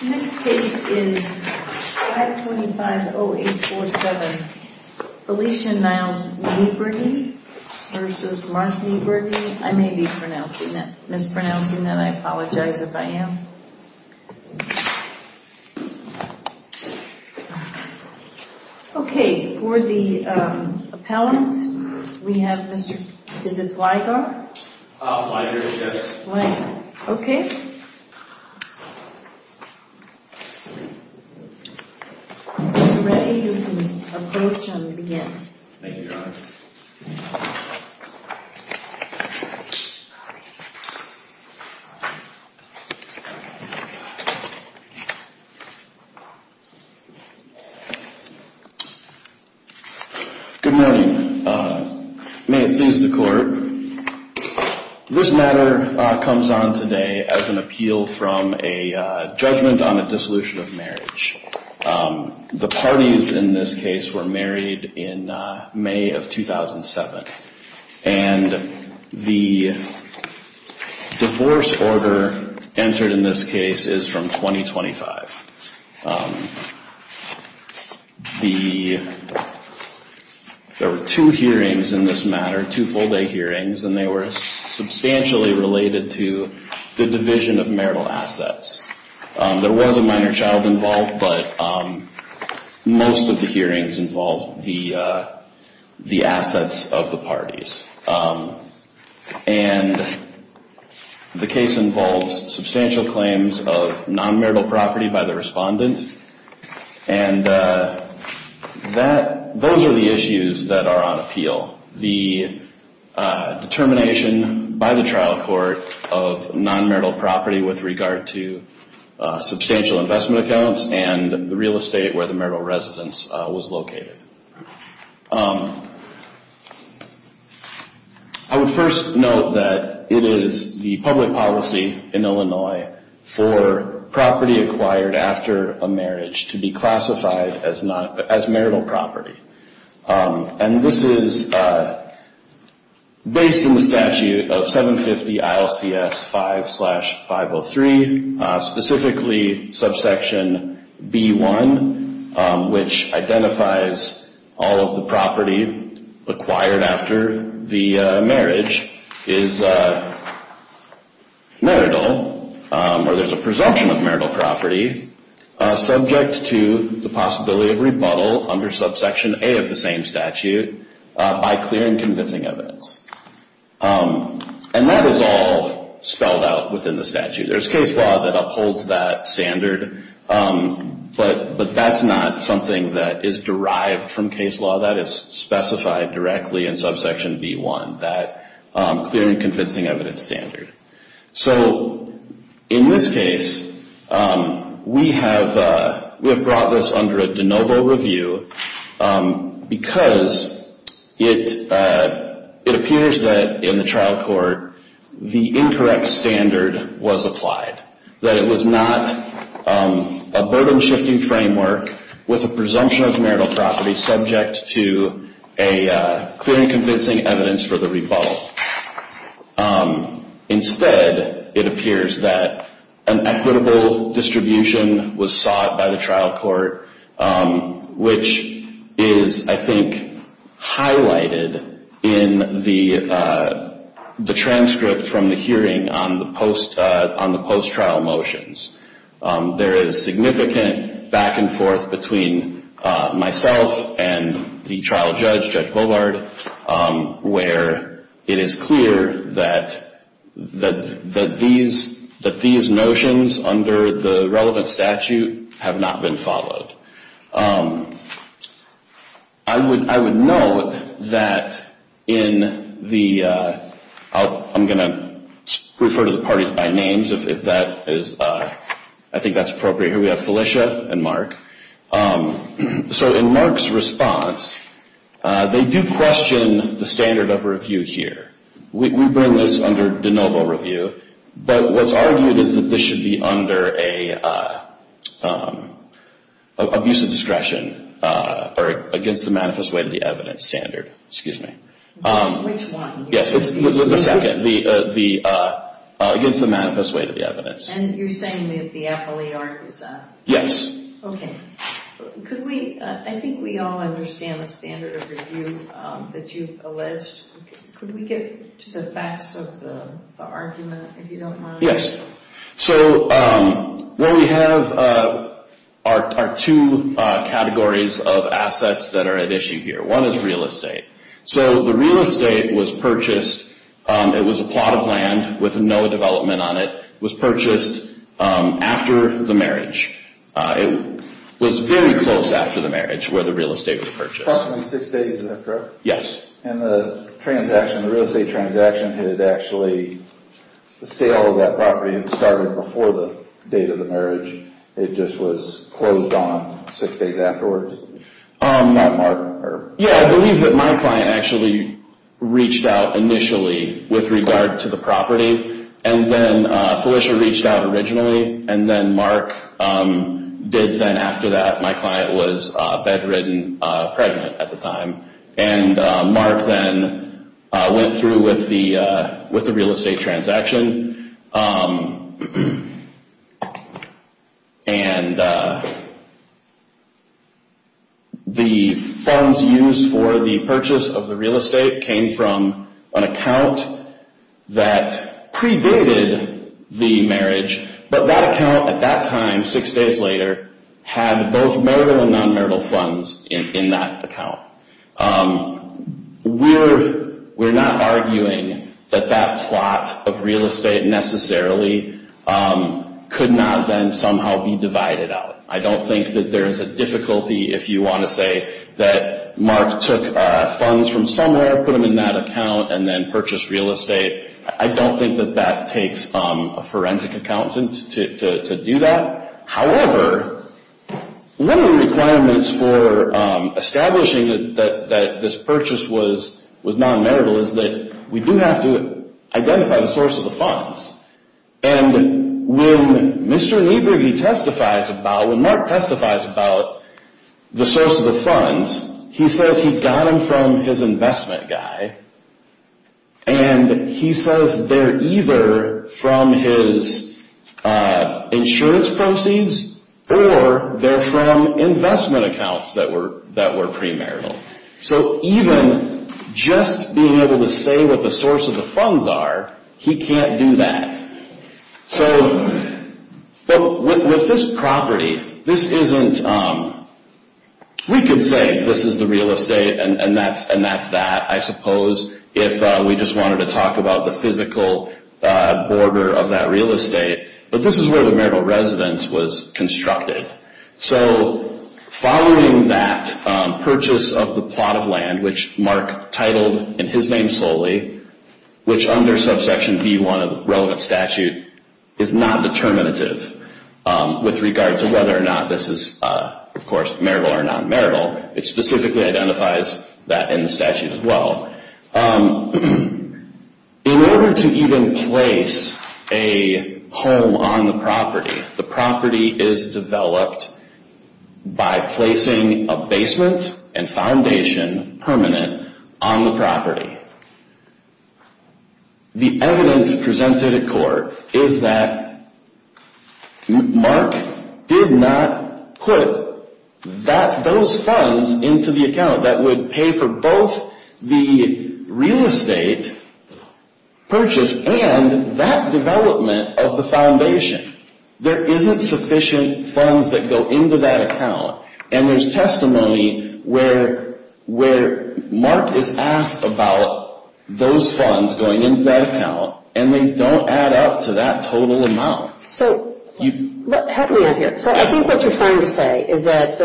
The next case is 525-0847 Felicia Niles-Niebrugge v. Mark Niebrugge I may be mispronouncing that. I apologize if I am. Okay, for the appellant, we have Mr.. Is this Ligar? Ligar, yes. Ligar, okay. If you're ready, you can approach and begin. Thank you, Your Honor. Good morning. May it please the court. This matter comes on today as an appeal from a judgment on a dissolution of marriage. The parties in this case were married in May of 2007. And the divorce order entered in this case is from 2025. There were two hearings in this matter, two full-day hearings, and they were substantially related to the division of marital assets. There was a minor child involved, but most of the hearings involved the assets of the parties. And the case involves substantial claims of non-marital property by the respondent. And those are the issues that are on appeal. The determination by the trial court of non-marital property with regard to substantial investment accounts and the real estate where the marital residence was located. I would first note that it is the public policy in Illinois for property acquired after a marriage to be classified as marital property. And this is based on the statute of 750 ILCS 5 slash 503, specifically subsection B1, which identifies all of the property acquired after the marriage is marital or there's a presumption of marital property subject to the possibility of rebuttal under subsection A of the same statute by clear and convincing evidence. And that is all spelled out within the statute. There's case law that upholds that standard, but that's not something that is derived from case law. That is specified directly in subsection B1, that clear and convincing evidence standard. So in this case, we have brought this under a de novo review because it appears that in the trial court the incorrect standard was applied. That it was not a burden-shifting framework with a presumption of marital property subject to a clear and convincing evidence for the rebuttal. Instead, it appears that an equitable distribution was sought by the trial court, which is, I think, highlighted in the transcript from the hearing on the post-trial motions. There is significant back and forth between myself and the trial judge, Judge Bovard, where it is clear that these notions under the relevant statute have not been followed. I would note that in the, I'm going to refer to the parties by names if that is, I think that's appropriate. Here we have Felicia and Mark. So in Mark's response, they do question the standard of review here. We bring this under de novo review. But what's argued is that this should be under an abuse of discretion or against the manifest way to the evidence standard. Excuse me. Which one? Yes, the second. Against the manifest way to the evidence. And you're saying that the FLE arc is up? Yes. Okay. Could we, I think we all understand the standard of review that you've alleged. Could we get to the facts of the argument, if you don't mind? So what we have are two categories of assets that are at issue here. One is real estate. So the real estate was purchased, it was a plot of land with no development on it, was purchased after the marriage. It was very close after the marriage where the real estate was purchased. Approximately six days, is that correct? Yes. And the transaction, the real estate transaction had actually, the sale of that property had started before the date of the marriage. It just was closed on six days afterwards? Yeah, I believe that my client actually reached out initially with regard to the property. And then Felicia reached out originally, and then Mark did then after that. My client was bedridden, pregnant at the time. And Mark then went through with the real estate transaction. And the funds used for the purchase of the real estate came from an account that predated the marriage. But that account at that time, six days later, had both marital and non-marital funds in that account. We're not arguing that that plot of real estate necessarily could not then somehow be divided out. I don't think that there is a difficulty if you want to say that Mark took funds from somewhere, put them in that account, and then purchased real estate. I don't think that that takes a forensic accountant to do that. However, one of the requirements for establishing that this purchase was non-marital is that we do have to identify the source of the funds. And when Mr. Niebuhr, he testifies about, when Mark testifies about the source of the funds, he says he got them from his investment guy. And he says they're either from his insurance proceeds or they're from investment accounts that were pre-marital. So even just being able to say what the source of the funds are, he can't do that. So with this property, this isn't, we could say this is the real estate and that's that, I suppose, if we just wanted to talk about the physical border of that real estate. But this is where the marital residence was constructed. So following that purchase of the plot of land, which Mark titled in his name solely, which under subsection B-1 of the relevant statute is not determinative with regard to whether or not this is, of course, marital or non-marital. It specifically identifies that in the statute as well. In order to even place a home on the property, the property is developed by placing a basement and foundation permanent on the property. The evidence presented at court is that Mark did not put those funds into the account that would pay for both the real estate purchase and that development of the foundation. There isn't sufficient funds that go into that account. And there's testimony where Mark is asked about those funds going into that account, and they don't add up to that total amount. So how do we end here? So I think what you're trying to say is that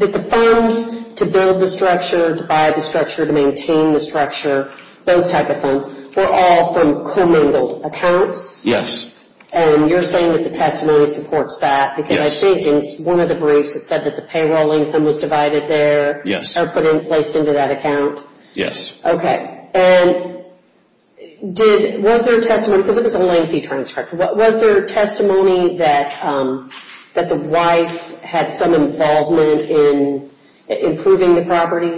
the funds to build the structure, to buy the structure, to maintain the structure, those type of funds, were all from commingled accounts? Yes. And you're saying that the testimony supports that? Because I think in one of the briefs it said that the payroll income was divided there? Yes. Or placed into that account? Yes. Okay. And was there testimony, because it was a lengthy transcript, was there testimony that the wife had some involvement in improving the property?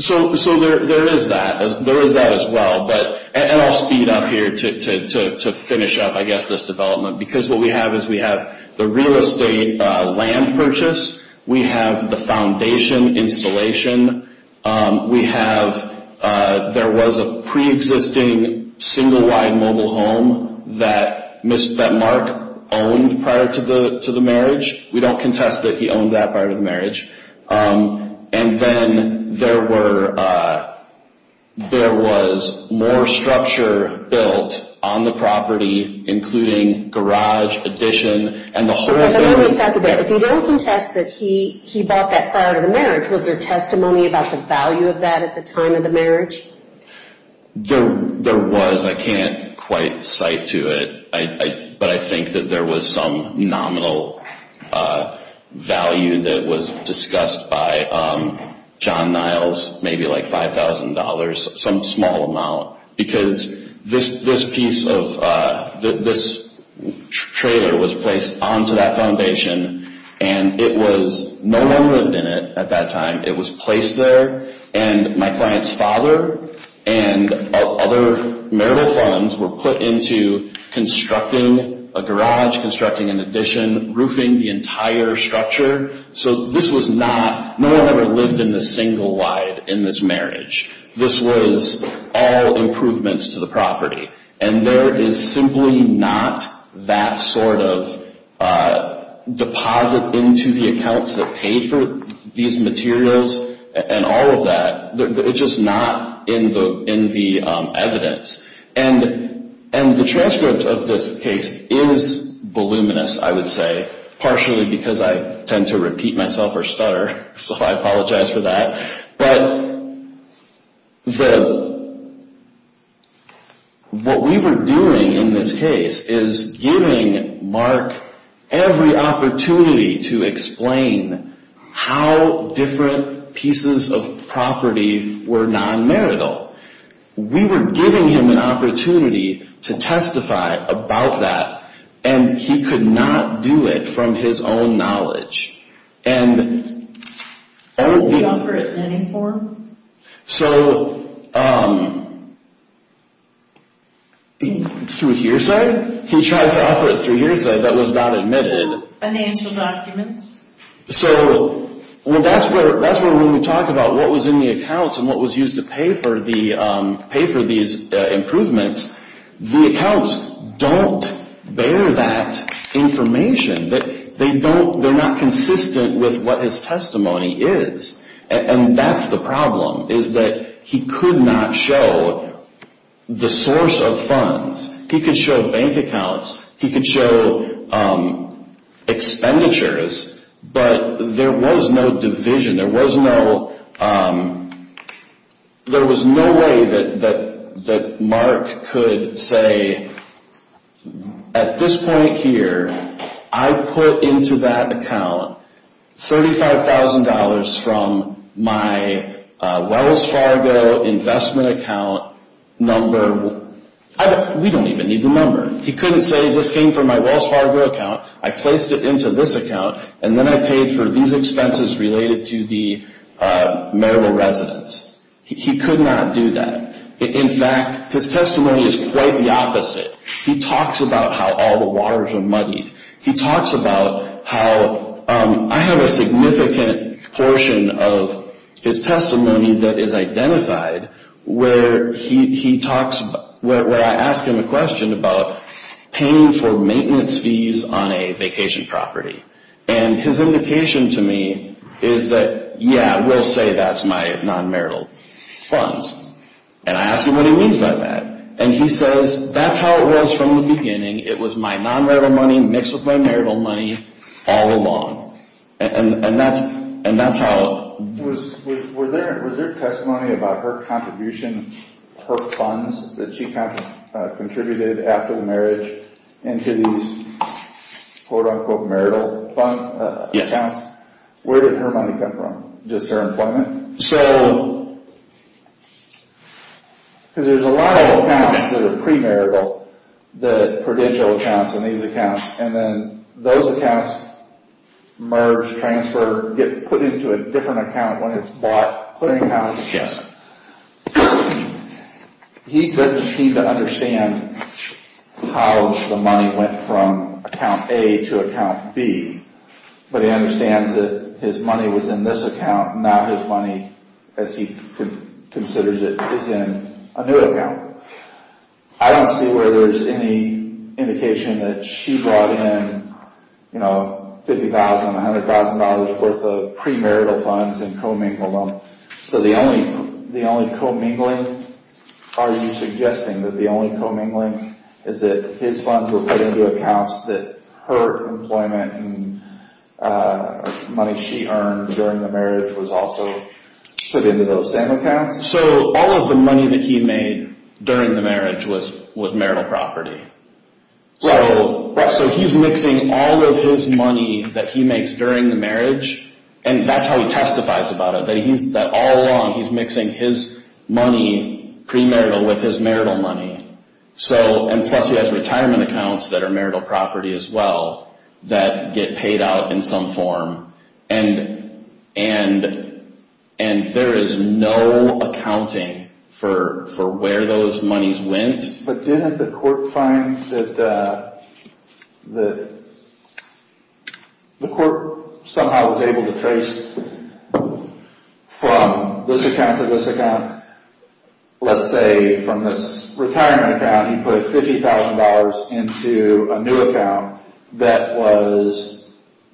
So there is that. There is that as well. And I'll speed up here to finish up, I guess, this development. Because what we have is we have the real estate land purchase. We have the foundation installation. We have, there was a preexisting single wide mobile home that Mark owned prior to the marriage. We don't contest that he owned that prior to the marriage. And then there were, there was more structure built on the property, including garage addition and the whole thing. But let me restate that. If you don't contest that he bought that prior to the marriage, was there testimony about the value of that at the time of the marriage? There was. I can't quite cite to it. But I think that there was some nominal value that was discussed by John Niles, maybe like $5,000, some small amount. Because this piece of, this trailer was placed onto that foundation, and it was, no one lived in it at that time. It was placed there. And my client's father and other marital funds were put into constructing a garage, constructing an addition, roofing the entire structure. So this was not, no one ever lived in the single wide in this marriage. This was all improvements to the property. And there is simply not that sort of deposit into the accounts that paid for these materials and all of that. It's just not in the evidence. And the transcript of this case is voluminous, I would say, partially because I tend to repeat myself or stutter, so I apologize for that. But what we were doing in this case is giving Mark every opportunity to explain how different pieces of property were non-marital. We were giving him an opportunity to testify about that, and he could not do it from his own knowledge. Did he offer it in any form? So, through hearsay, he tried to offer it through hearsay that was not admitted. Financial documents? So, that's where when we talk about what was in the accounts and what was used to pay for these improvements, the accounts don't bear that information. They don't, they're not consistent with what his testimony is. And that's the problem, is that he could not show the source of funds. He could show bank accounts. He could show expenditures. But there was no division. There was no way that Mark could say, at this point here, I put into that account $35,000 from my Wells Fargo investment account number. We don't even need the number. He couldn't say, this came from my Wells Fargo account. I placed it into this account, and then I paid for these expenses related to the marital residence. He could not do that. In fact, his testimony is quite the opposite. He talks about how all the waters are muddied. He talks about how I have a significant portion of his testimony that is identified where he talks, where I ask him a question about paying for maintenance fees on a vacation property. And his indication to me is that, yeah, we'll say that's my non-marital funds. And I ask him what he means by that. And he says, that's how it was from the beginning. It was my non-marital money mixed with my marital money all along. And that's how it was. Was there testimony about her contribution, her funds that she contributed after the marriage into these quote-unquote marital accounts? Yes. Where did her money come from? Just her employment? So, because there's a lot of accounts that are premarital, the prudential accounts and these accounts. And then those accounts merge, transfer, get put into a different account when it's bought, clearing house. He doesn't seem to understand how the money went from account A to account B. But he understands that his money was in this account, not his money as he considers it is in a new account. I don't see where there's any indication that she brought in, you know, $50,000, $100,000 worth of premarital funds and co-mingled them. So, the only co-mingling, are you suggesting that the only co-mingling is that his funds were put into accounts that her employment and money she earned during the marriage was also put into those same accounts? So, all of the money that he made during the marriage was marital property. So, he's mixing all of his money that he makes during the marriage. And that's how he testifies about it, that all along he's mixing his money premarital with his marital money. So, and plus he has retirement accounts that are marital property as well that get paid out in some form. And there is no accounting for where those monies went. But didn't the court find that the court somehow was able to trace from this account to this account? Let's say from this retirement account he put $50,000 into a new account that was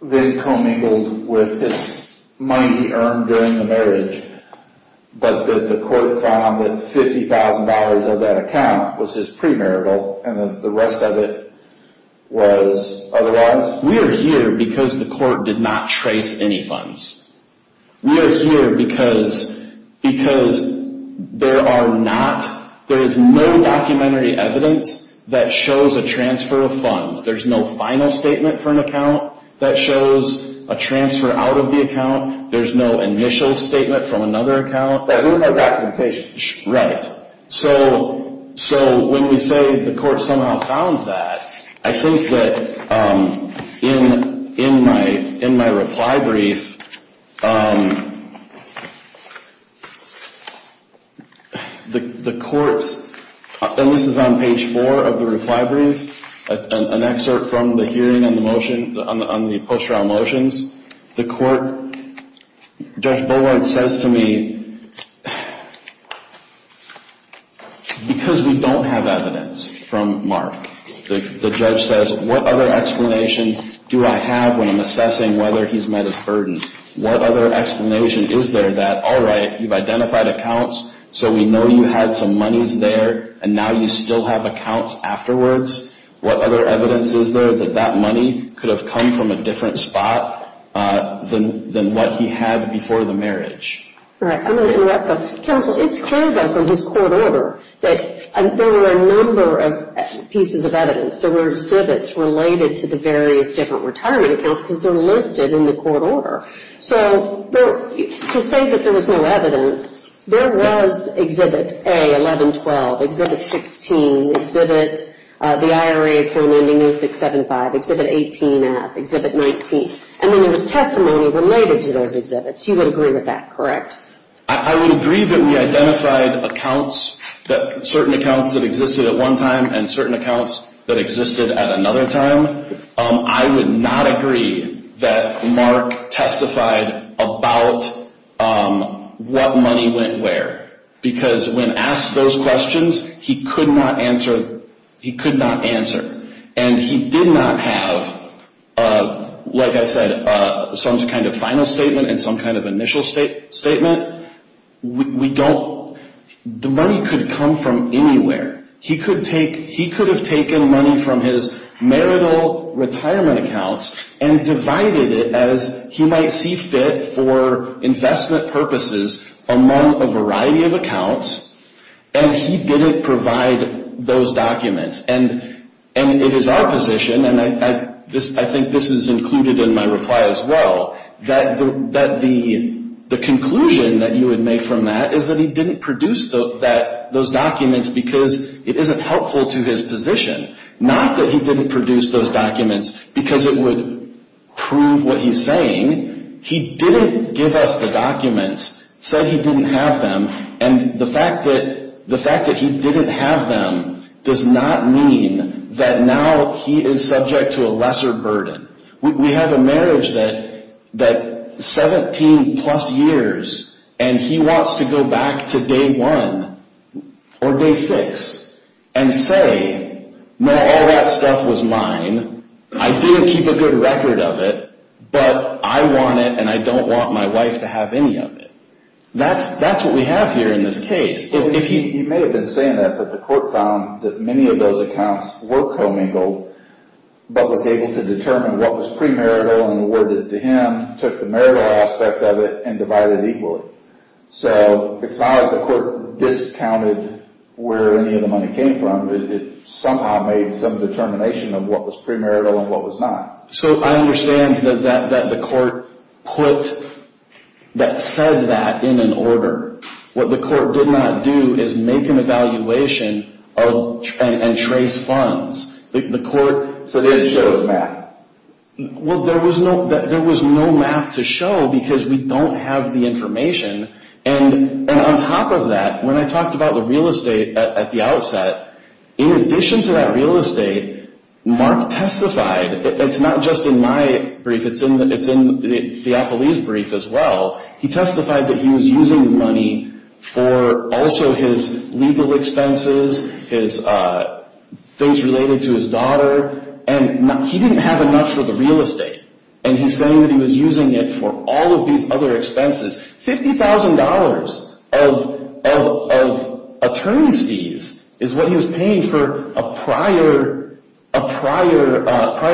then co-mingled with his money he earned during the marriage. But the court found that $50,000 of that account was his premarital and the rest of it was otherwise. We are here because the court did not trace any funds. We are here because there is no documentary evidence that shows a transfer of funds. There's no final statement for an account that shows a transfer out of the account. There's no initial statement from another account. There's no documentation. Right. So, when we say the court somehow found that, I think that in my reply brief, the courts, and this is on page 4 of the reply brief, an excerpt from the hearing on the motion, on the post-trial motions, the court, Judge Bullard says to me, because we don't have evidence from Mark, the judge says, what other explanation do I have when I'm assessing whether he's met his burden? What other explanation is there that, all right, you've identified accounts, so we know you had some monies there and now you still have accounts afterwards. What other evidence is there that that money could have come from a different spot than what he had before the marriage? All right. I'm going to interrupt. Counsel, it's clear then from his court order that there were a number of pieces of evidence. There were civets related to the various different retirement accounts because they're listed in the court order. So, to say that there was no evidence, there was Exhibits A, 11, 12, Exhibit 16, Exhibit, the IRA form ending May 6, 7, 5, Exhibit 18F, Exhibit 19, and then there was testimony related to those exhibits. You would agree with that, correct? I would agree that we identified accounts, certain accounts that existed at one time and certain accounts that existed at another time. I would not agree that Mark testified about what money went where because when asked those questions, he could not answer. And he did not have, like I said, some kind of final statement and some kind of initial statement. We don't, the money could come from anywhere. He could have taken money from his marital retirement accounts and divided it as he might see fit for investment purposes among a variety of accounts, and he didn't provide those documents. And it is our position, and I think this is included in my reply as well, that the conclusion that you would make from that is that he didn't produce those documents because it isn't helpful to his position. Not that he didn't produce those documents because it would prove what he's saying. He didn't give us the documents, said he didn't have them, and the fact that he didn't have them does not mean that now he is subject to a lesser burden. We have a marriage that is 17 plus years, and he wants to go back to day one or day six and say, no, all that stuff was mine, I didn't keep a good record of it, but I want it and I don't want my wife to have any of it. That's what we have here in this case. You may have been saying that, but the court found that many of those accounts were commingled, but was able to determine what was premarital and awarded to him, took the marital aspect of it, and divided it equally. So it's not like the court discounted where any of the money came from. It somehow made some determination of what was premarital and what was not. So I understand that the court put, that said that in an order. What the court did not do is make an evaluation and trace funds. So they didn't show the math. Well, there was no math to show because we don't have the information, and on top of that, when I talked about the real estate at the outset, in addition to that real estate, Mark testified, it's not just in my brief, it's in Theopolis' brief as well. He testified that he was using the money for also his legal expenses, things related to his daughter, and he didn't have enough for the real estate, and he's saying that he was using it for all of these other expenses. $50,000 of attorney's fees is what he was paying for a prior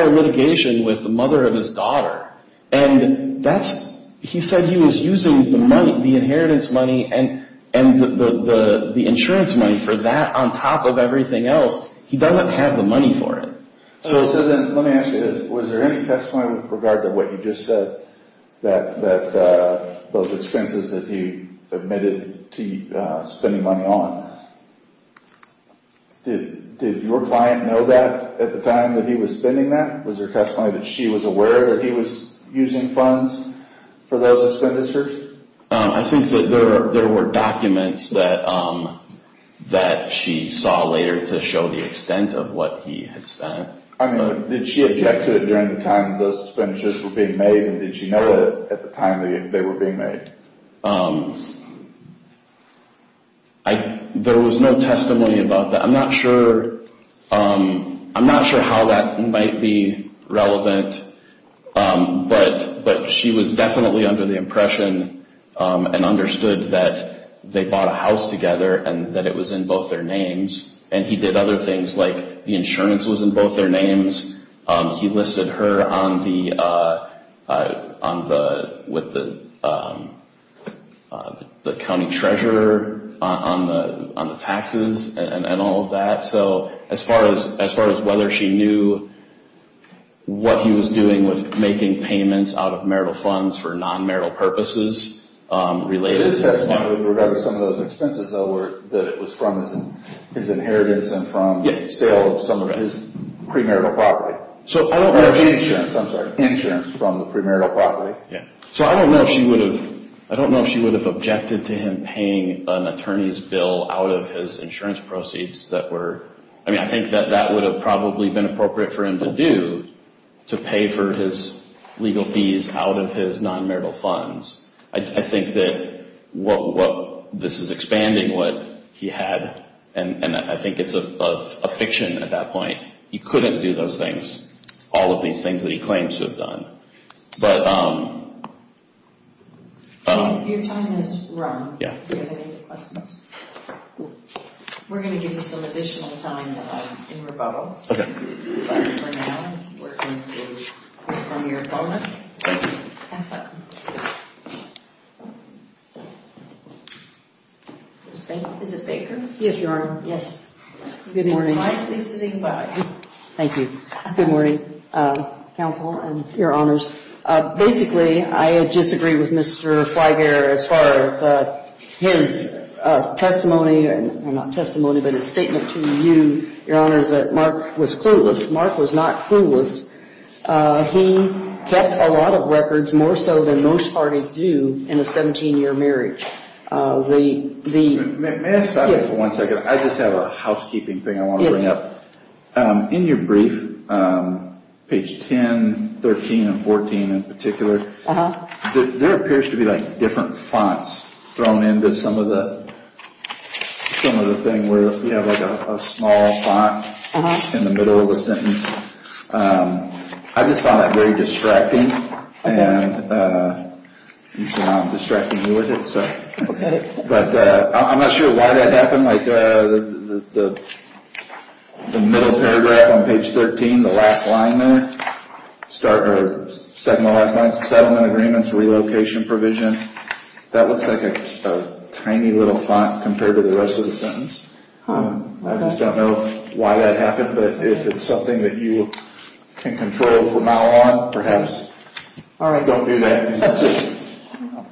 litigation with the mother of his daughter, and he said he was using the inheritance money and the insurance money for that on top of everything else. He doesn't have the money for it. Let me ask you this. Was there any testimony with regard to what you just said, that those expenses that he admitted to spending money on, did your client know that at the time that he was spending that? Was there testimony that she was aware that he was using funds for those expenditures? I think that there were documents that she saw later to show the extent of what he had spent. Did she object to it during the time that those expenditures were being made, and did she know that at the time they were being made? There was no testimony about that. I'm not sure how that might be relevant, but she was definitely under the impression and understood that they bought a house together and that it was in both their names, and he did other things like the insurance was in both their names. He listed her with the county treasurer on the taxes and all of that. So as far as whether she knew what he was doing with making payments out of marital funds for non-marital purposes related to that. There is testimony with regard to some of those expenses, though, that it was from his inheritance and from sale of some of his premarital property. I'm sorry, insurance from the premarital property. I don't know if she would have objected to him paying an attorney's bill out of his insurance proceeds. I think that that would have probably been appropriate for him to do, to pay for his legal fees out of his non-marital funds. I think that this is expanding what he had, and I think it's a fiction at that point. He couldn't do those things, all of these things that he claimed to have done. Your time has run. Yeah. We're going to give you some additional time in rebuttal. Okay. But for now, we're going to hear from your opponent. Thank you. Is it Baker? Yes, Your Honor. Yes. Good morning. Mike is sitting by. Thank you. Good morning, counsel and Your Honors. Basically, I disagree with Mr. Flyger as far as his testimony, not testimony, but his statement to you, Your Honors, that Mark was clueless. Mark was not clueless. He kept a lot of records, more so than most parties do, in a 17-year marriage. May I stop you for one second? Yes. I just have a housekeeping thing I want to bring up. In your brief, page 10, 13, and 14 in particular, there appears to be like different fonts thrown into some of the thing where we have like a small font in the middle of the sentence. I just found that very distracting. And usually I'm distracting you with it. Okay. But I'm not sure why that happened. Like the middle paragraph on page 13, the last line there, second to the last line, settlement agreements, relocation provision, that looks like a tiny little font compared to the rest of the sentence. I just don't know why that happened, but if it's something that you can control from now on, perhaps don't do that.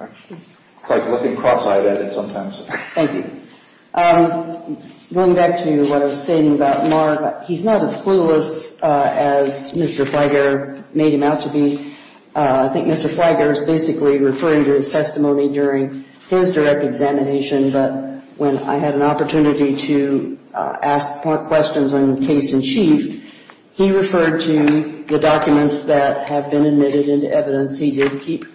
It's like looking cross-eyed at it sometimes. Thank you. Going back to what I was stating about Mark, he's not as clueless as Mr. Flyger made him out to be. I think Mr. Flyger is basically referring to his testimony during his direct examination, but when I had an opportunity to ask Mark questions on case in chief, he referred to the documents that have been admitted into evidence. He did keep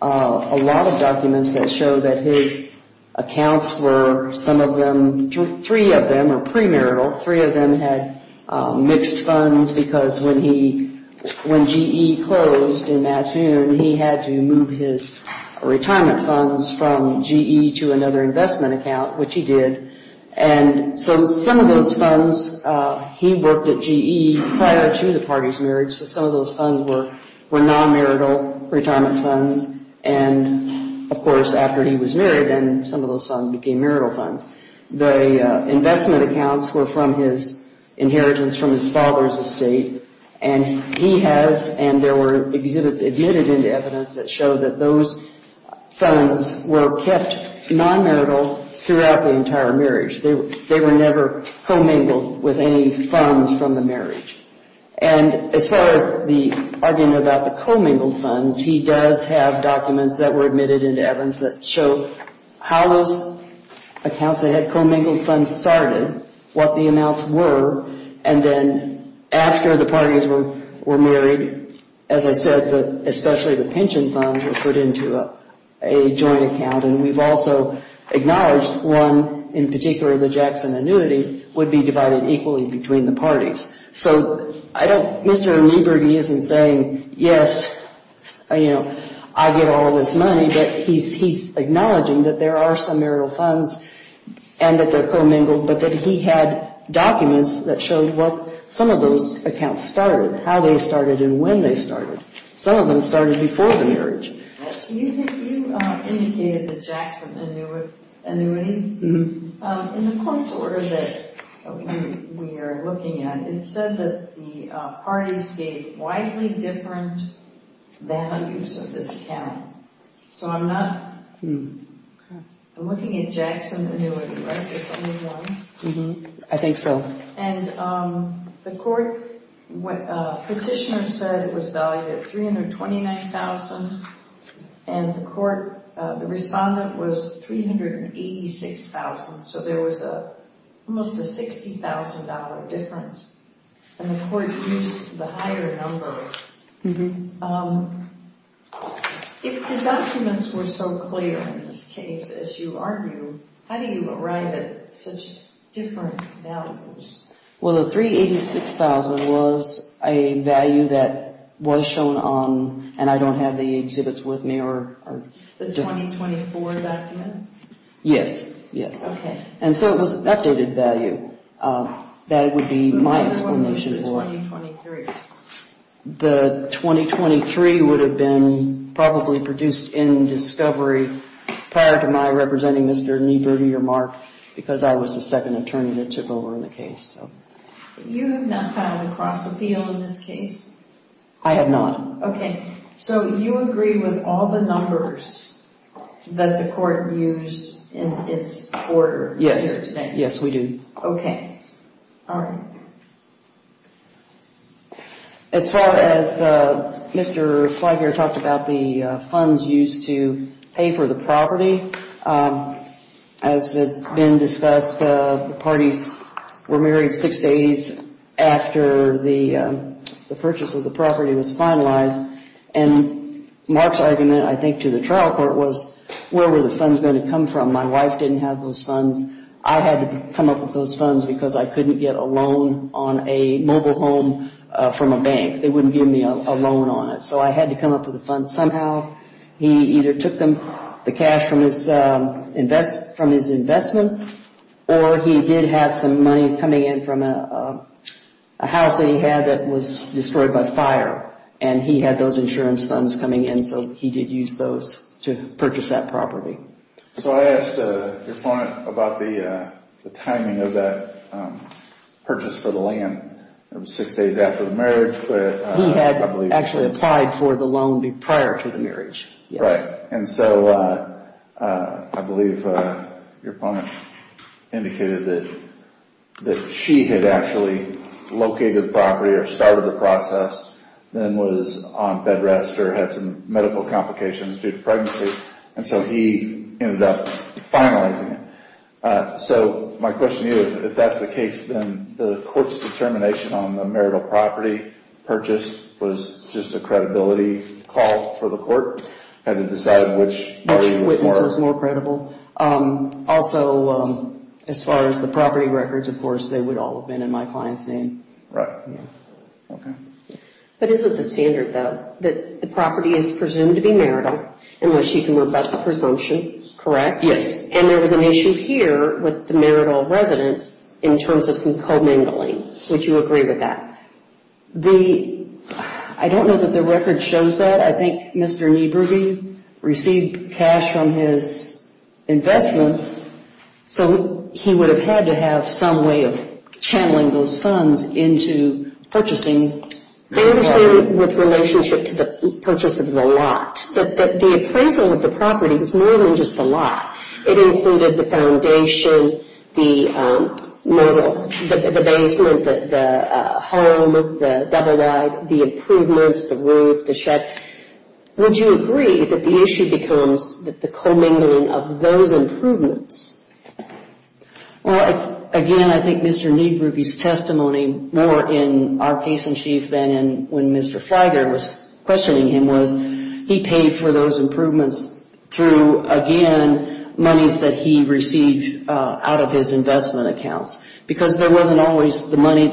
a lot of documents that show that his accounts were some of them, three of them are premarital, three of them had mixed funds because when GE closed in that year, he had to move his retirement funds from GE to another investment account, which he did. And so some of those funds, he worked at GE prior to the party's marriage, so some of those funds were non-marital retirement funds. And, of course, after he was married, then some of those funds became marital funds. The investment accounts were from his inheritance from his father's estate, and he has, and there were exhibits admitted into evidence that show that those funds were kept non-marital throughout the entire marriage. They were never commingled with any funds from the marriage. And as far as the argument about the commingled funds, he does have documents that were admitted into evidence that show how those accounts that had commingled funds started, what the amounts were, and then after the parties were married, as I said, especially the pension funds were put into a joint account, and we've also acknowledged one, in particular, the Jackson annuity, would be divided equally between the parties. So Mr. Newberg, he isn't saying, yes, I get all this money, but he's acknowledging that there are some marital funds and that they're commingled, but that he had documents that showed what some of those accounts started, how they started and when they started. Some of them started before the marriage. You indicated the Jackson annuity. In the points order that we are looking at, it said that the parties gave widely different values of this account. So I'm looking at Jackson annuity, right? I think so. And the court petitioner said it was valued at $329,000, and the respondent was $386,000, so there was almost a $60,000 difference, and the court used the higher number. If the documents were so clear in this case, as you argue, how do you arrive at such different values? Well, the $386,000 was a value that was shown on, and I don't have the exhibits with me, or... The 2024 document? Yes, yes. Okay. And so it was an updated value. That would be my explanation for... The 2023 would have been probably produced in discovery prior to my representing Mr. Niebuhr to your mark because I was the second attorney that took over in the case. You have not filed a cross-appeal in this case? I have not. Okay. So you agree with all the numbers that the court used in its order here today? Yes, yes, we do. Okay. All right. As far as Mr. Flagler talked about the funds used to pay for the property, as it's been discussed, the parties were married six days after the purchase of the property was finalized, and Mark's argument, I think, to the trial court was, where were the funds going to come from? My wife didn't have those funds. I had to come up with those funds because I couldn't get a loan on a mobile home from a bank. They wouldn't give me a loan on it. So I had to come up with the funds somehow. He either took the cash from his investments or he did have some money coming in from a house that he had that was destroyed by fire, and he had those insurance funds coming in, so he did use those to purchase that property. So I asked your opponent about the timing of that purchase for the land. It was six days after the marriage. He had actually applied for the loan prior to the marriage. Right. And so I believe your opponent indicated that she had actually located the property or started the process, then was on bed rest or had some medical complications due to pregnancy, and so he ended up finalizing it. So my question to you, if that's the case, then the court's determination on the marital property purchased was just a credibility call for the court? Had to decide which body was more credible? Which witness was more credible. Also, as far as the property records, of course, they would all have been in my client's name. Right. Okay. But isn't the standard, though, that the property is presumed to be marital unless she can rebut the presumption, correct? And there was an issue here with the marital residence in terms of some commingling. Would you agree with that? I don't know that the record shows that. I think Mr. Niebuhr received cash from his investments, so he would have had to have some way of channeling those funds into purchasing. I understand with relationship to the purchase of the lot, that the appraisal of the property was more than just the lot. It included the foundation, the marital, the basement, the home, the double-wide, the improvements, the roof, the shed. Would you agree that the issue becomes the commingling of those improvements? Well, again, I think Mr. Niebuhr, his testimony more in our case in chief than in when Mr. Fleiger was questioning him was he paid for those improvements through, again, monies that he received out of his investment accounts because there wasn't always the money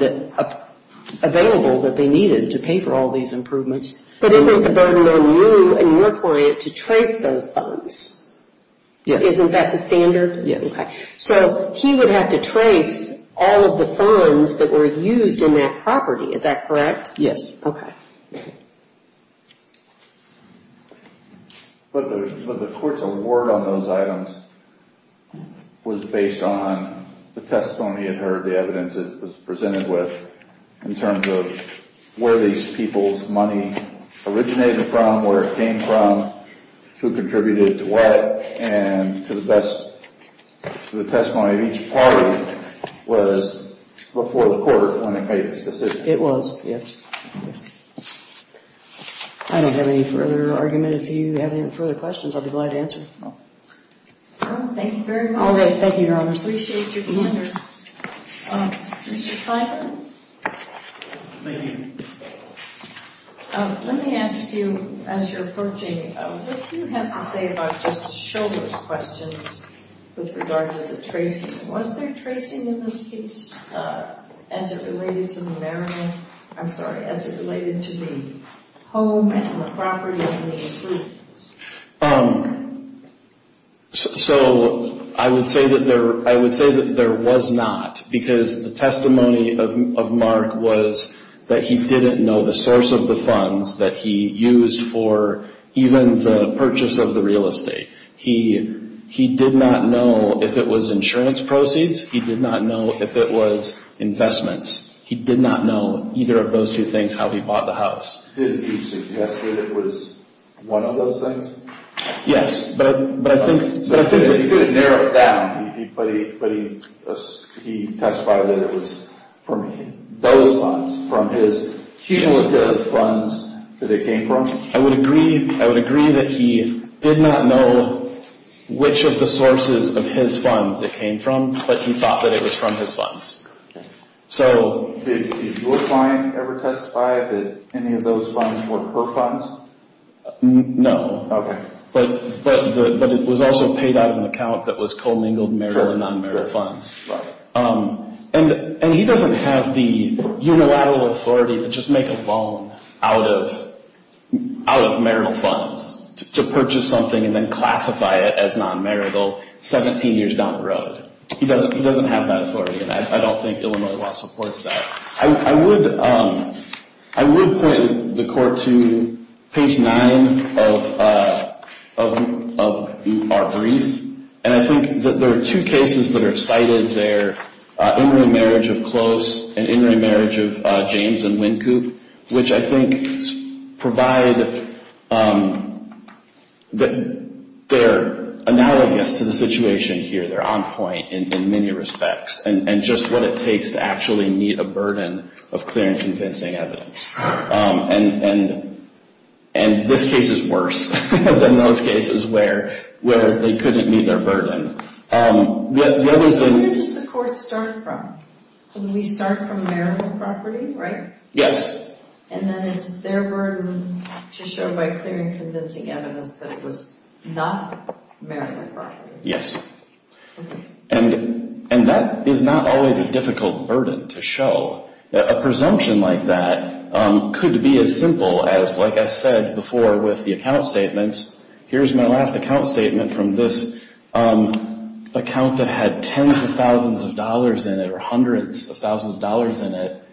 available that they needed to pay for all these improvements. But isn't the burden on you and your client to trace those funds? Yes. Isn't that the standard? Yes. Okay. So he would have to trace all of the funds that were used in that property. Is that correct? Yes. Okay. But the court's award on those items was based on the testimony it heard, the evidence it was presented with in terms of where these people's money originated from, where it came from, who contributed to what, and to the testimony of each party was before the court when it made its decision. It was, yes. I don't have any further argument. If you have any further questions, I'll be glad to answer. Thank you very much. All right. Thank you, Your Honor. I appreciate your comments. Mr. Fleiger? Thank you. Let me ask you, as you're approaching, what do you have to say about Justice Shulman's questions with regard to the tracing? Was there tracing in this case as it related to the home and the property and the improvements? So I would say that there was not, because the testimony of Mark was that he didn't know the source of the funds that he used for even the purchase of the real estate. He did not know if it was insurance proceeds. He did not know if it was investments. He did not know either of those two things, how he bought the house. Did he suggest that it was one of those things? Yes. But I think that he could have narrowed it down. But he testified that it was from those funds, from his cumulative funds that it came from? I would agree that he did not know which of the sources of his funds it came from, but he thought that it was from his funds. Did your client ever testify that any of those funds were her funds? No. Okay. But it was also paid out of an account that was co-mingled marital and non-marital funds. Right. And he doesn't have the unilateral authority to just make a loan out of marital funds to purchase something and then classify it as non-marital 17 years down the road. He doesn't have that authority, and I don't think Illinois law supports that. I would point the court to page 9 of our brief, and I think that there are two cases that are cited there, in re-marriage of Close and in re-marriage of James and Wynkoop, which I think provide that they're analogous to the situation here. They're on point in many respects, and just what it takes to actually meet a burden of clear and convincing evidence. And this case is worse than those cases where they couldn't meet their burden. Where does the court start from? We start from marital property, right? Yes. And then it's their burden to show by clear and convincing evidence that it was not marital property. Yes. And that is not always a difficult burden to show. A presumption like that could be as simple as, like I said before with the account statements, here's my last account statement from this account that had tens of thousands of dollars in it or hundreds of thousands of dollars in it,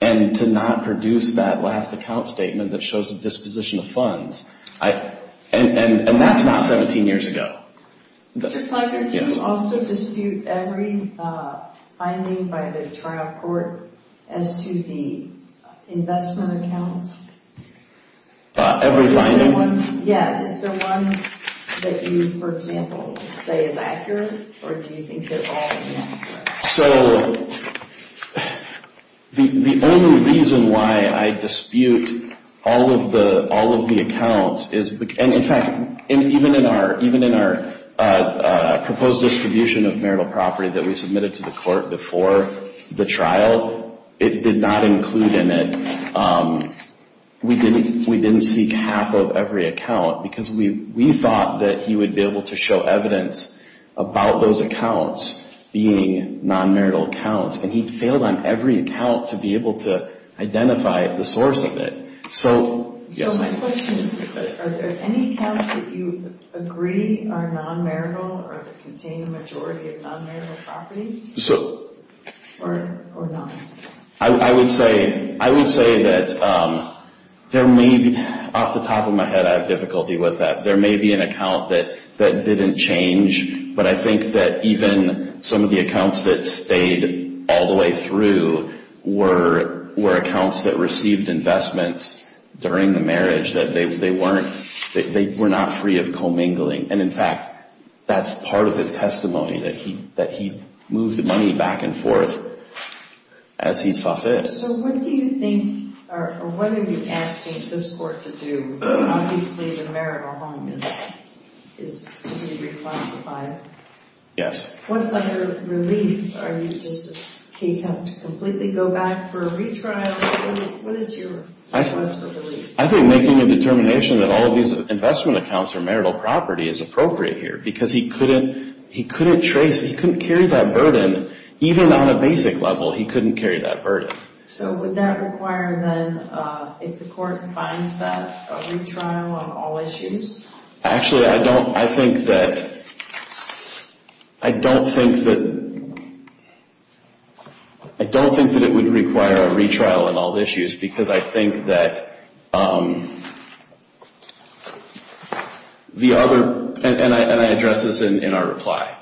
and to not produce that last account statement that shows the disposition of funds. And that's not 17 years ago. Mr. Parker, do you also dispute every finding by the trial court as to the investment accounts? Every finding? Yeah. Is there one that you, for example, say is accurate, or do you think they're all inaccurate? So the only reason why I dispute all of the accounts is, and in fact, even in our proposed distribution of marital property that we submitted to the court before the trial, it did not include in it, we didn't seek half of every account because we thought that he would be able to show evidence about those accounts being non-marital accounts, and he failed on every account to be able to identify the source of it. So, yes. So my question is, are there any accounts that you agree are non-marital or contain the majority of non-marital property or not? I would say that there may be, off the top of my head I have difficulty with that, there may be an account that didn't change, but I think that even some of the accounts that stayed all the way through were accounts that received investments during the marriage, that they weren't, they were not free of commingling. And in fact, that's part of his testimony, that he moved the money back and forth as he saw fit. So what do you think, or what are you asking this court to do? Obviously the marital home is to be reclassified. Yes. What's your relief? Are you just in case you have to completely go back for a retrial? What is your choice for relief? I think making a determination that all of these investment accounts are marital property is appropriate here because he couldn't trace, he couldn't carry that burden, even on a basic level he couldn't carry that burden. So would that require then, if the court finds that, a retrial on all issues? Actually, I don't, I think that, I don't think that, I don't think that it would require a retrial on all issues because I think that the other, and I address this in our reply.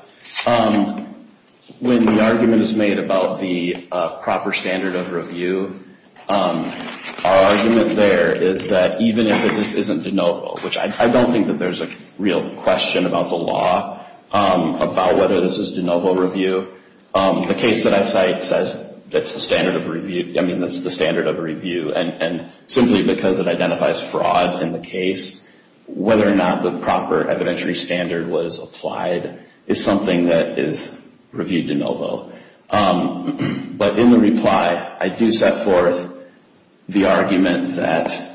When the argument is made about the proper standard of review, our argument there is that even if this isn't de novo, which I don't think that there's a real question about the law about whether this is de novo review, the case that I cite says that's the standard of review. I mean, that's the standard of review. And simply because it identifies fraud in the case, whether or not the proper evidentiary standard was applied is something that is reviewed de novo. But in the reply, I do set forth the argument that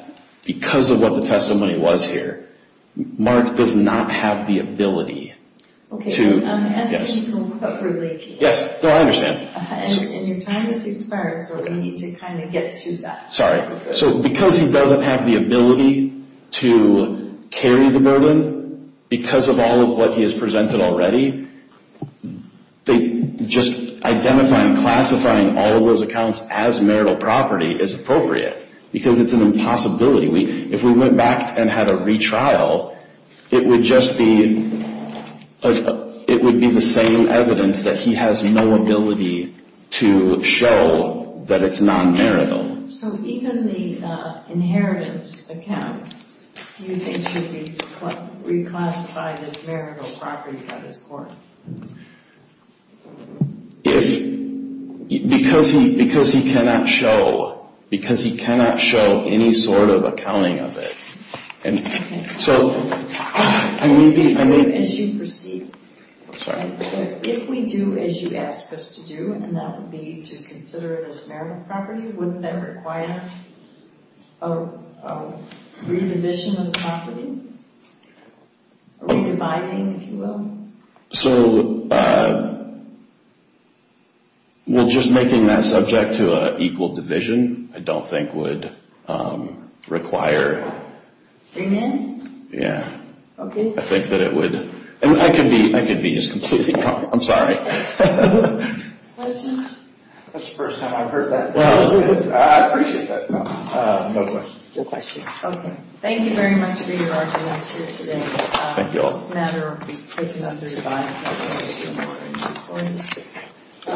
because of what the testimony was here, Mark does not have the ability to, yes. Okay, as to what really came up. Yes, no, I understand. And your time has expired so we need to kind of get to that. Sorry. So because he doesn't have the ability to carry the burden, because of all of what he has presented already, just identifying, classifying all of those accounts as marital property is appropriate because it's an impossibility. If we went back and had a retrial, it would just be the same evidence that he has no ability to show that it's non-marital. So even the inheritance account, do you think should be reclassified as marital property by this court? If, because he cannot show, because he cannot show any sort of accounting of it. So I may be, I may. As you proceed. I'm sorry. If we do as you ask us to do, and that would be to consider it as marital property, wouldn't that require a re-division of the property? A re-dividing, if you will? So, well, just making that subject to an equal division, I don't think would require. Bring in? Yeah. Okay. I think that it would. I could be just completely wrong. I'm sorry. Questions? That's the first time I've heard that. I appreciate that. No questions. No questions. Okay. Thank you very much for your arguments here today. Thank you all. This matter will be taken under your guidance. Thank you. Thank you. Thank you.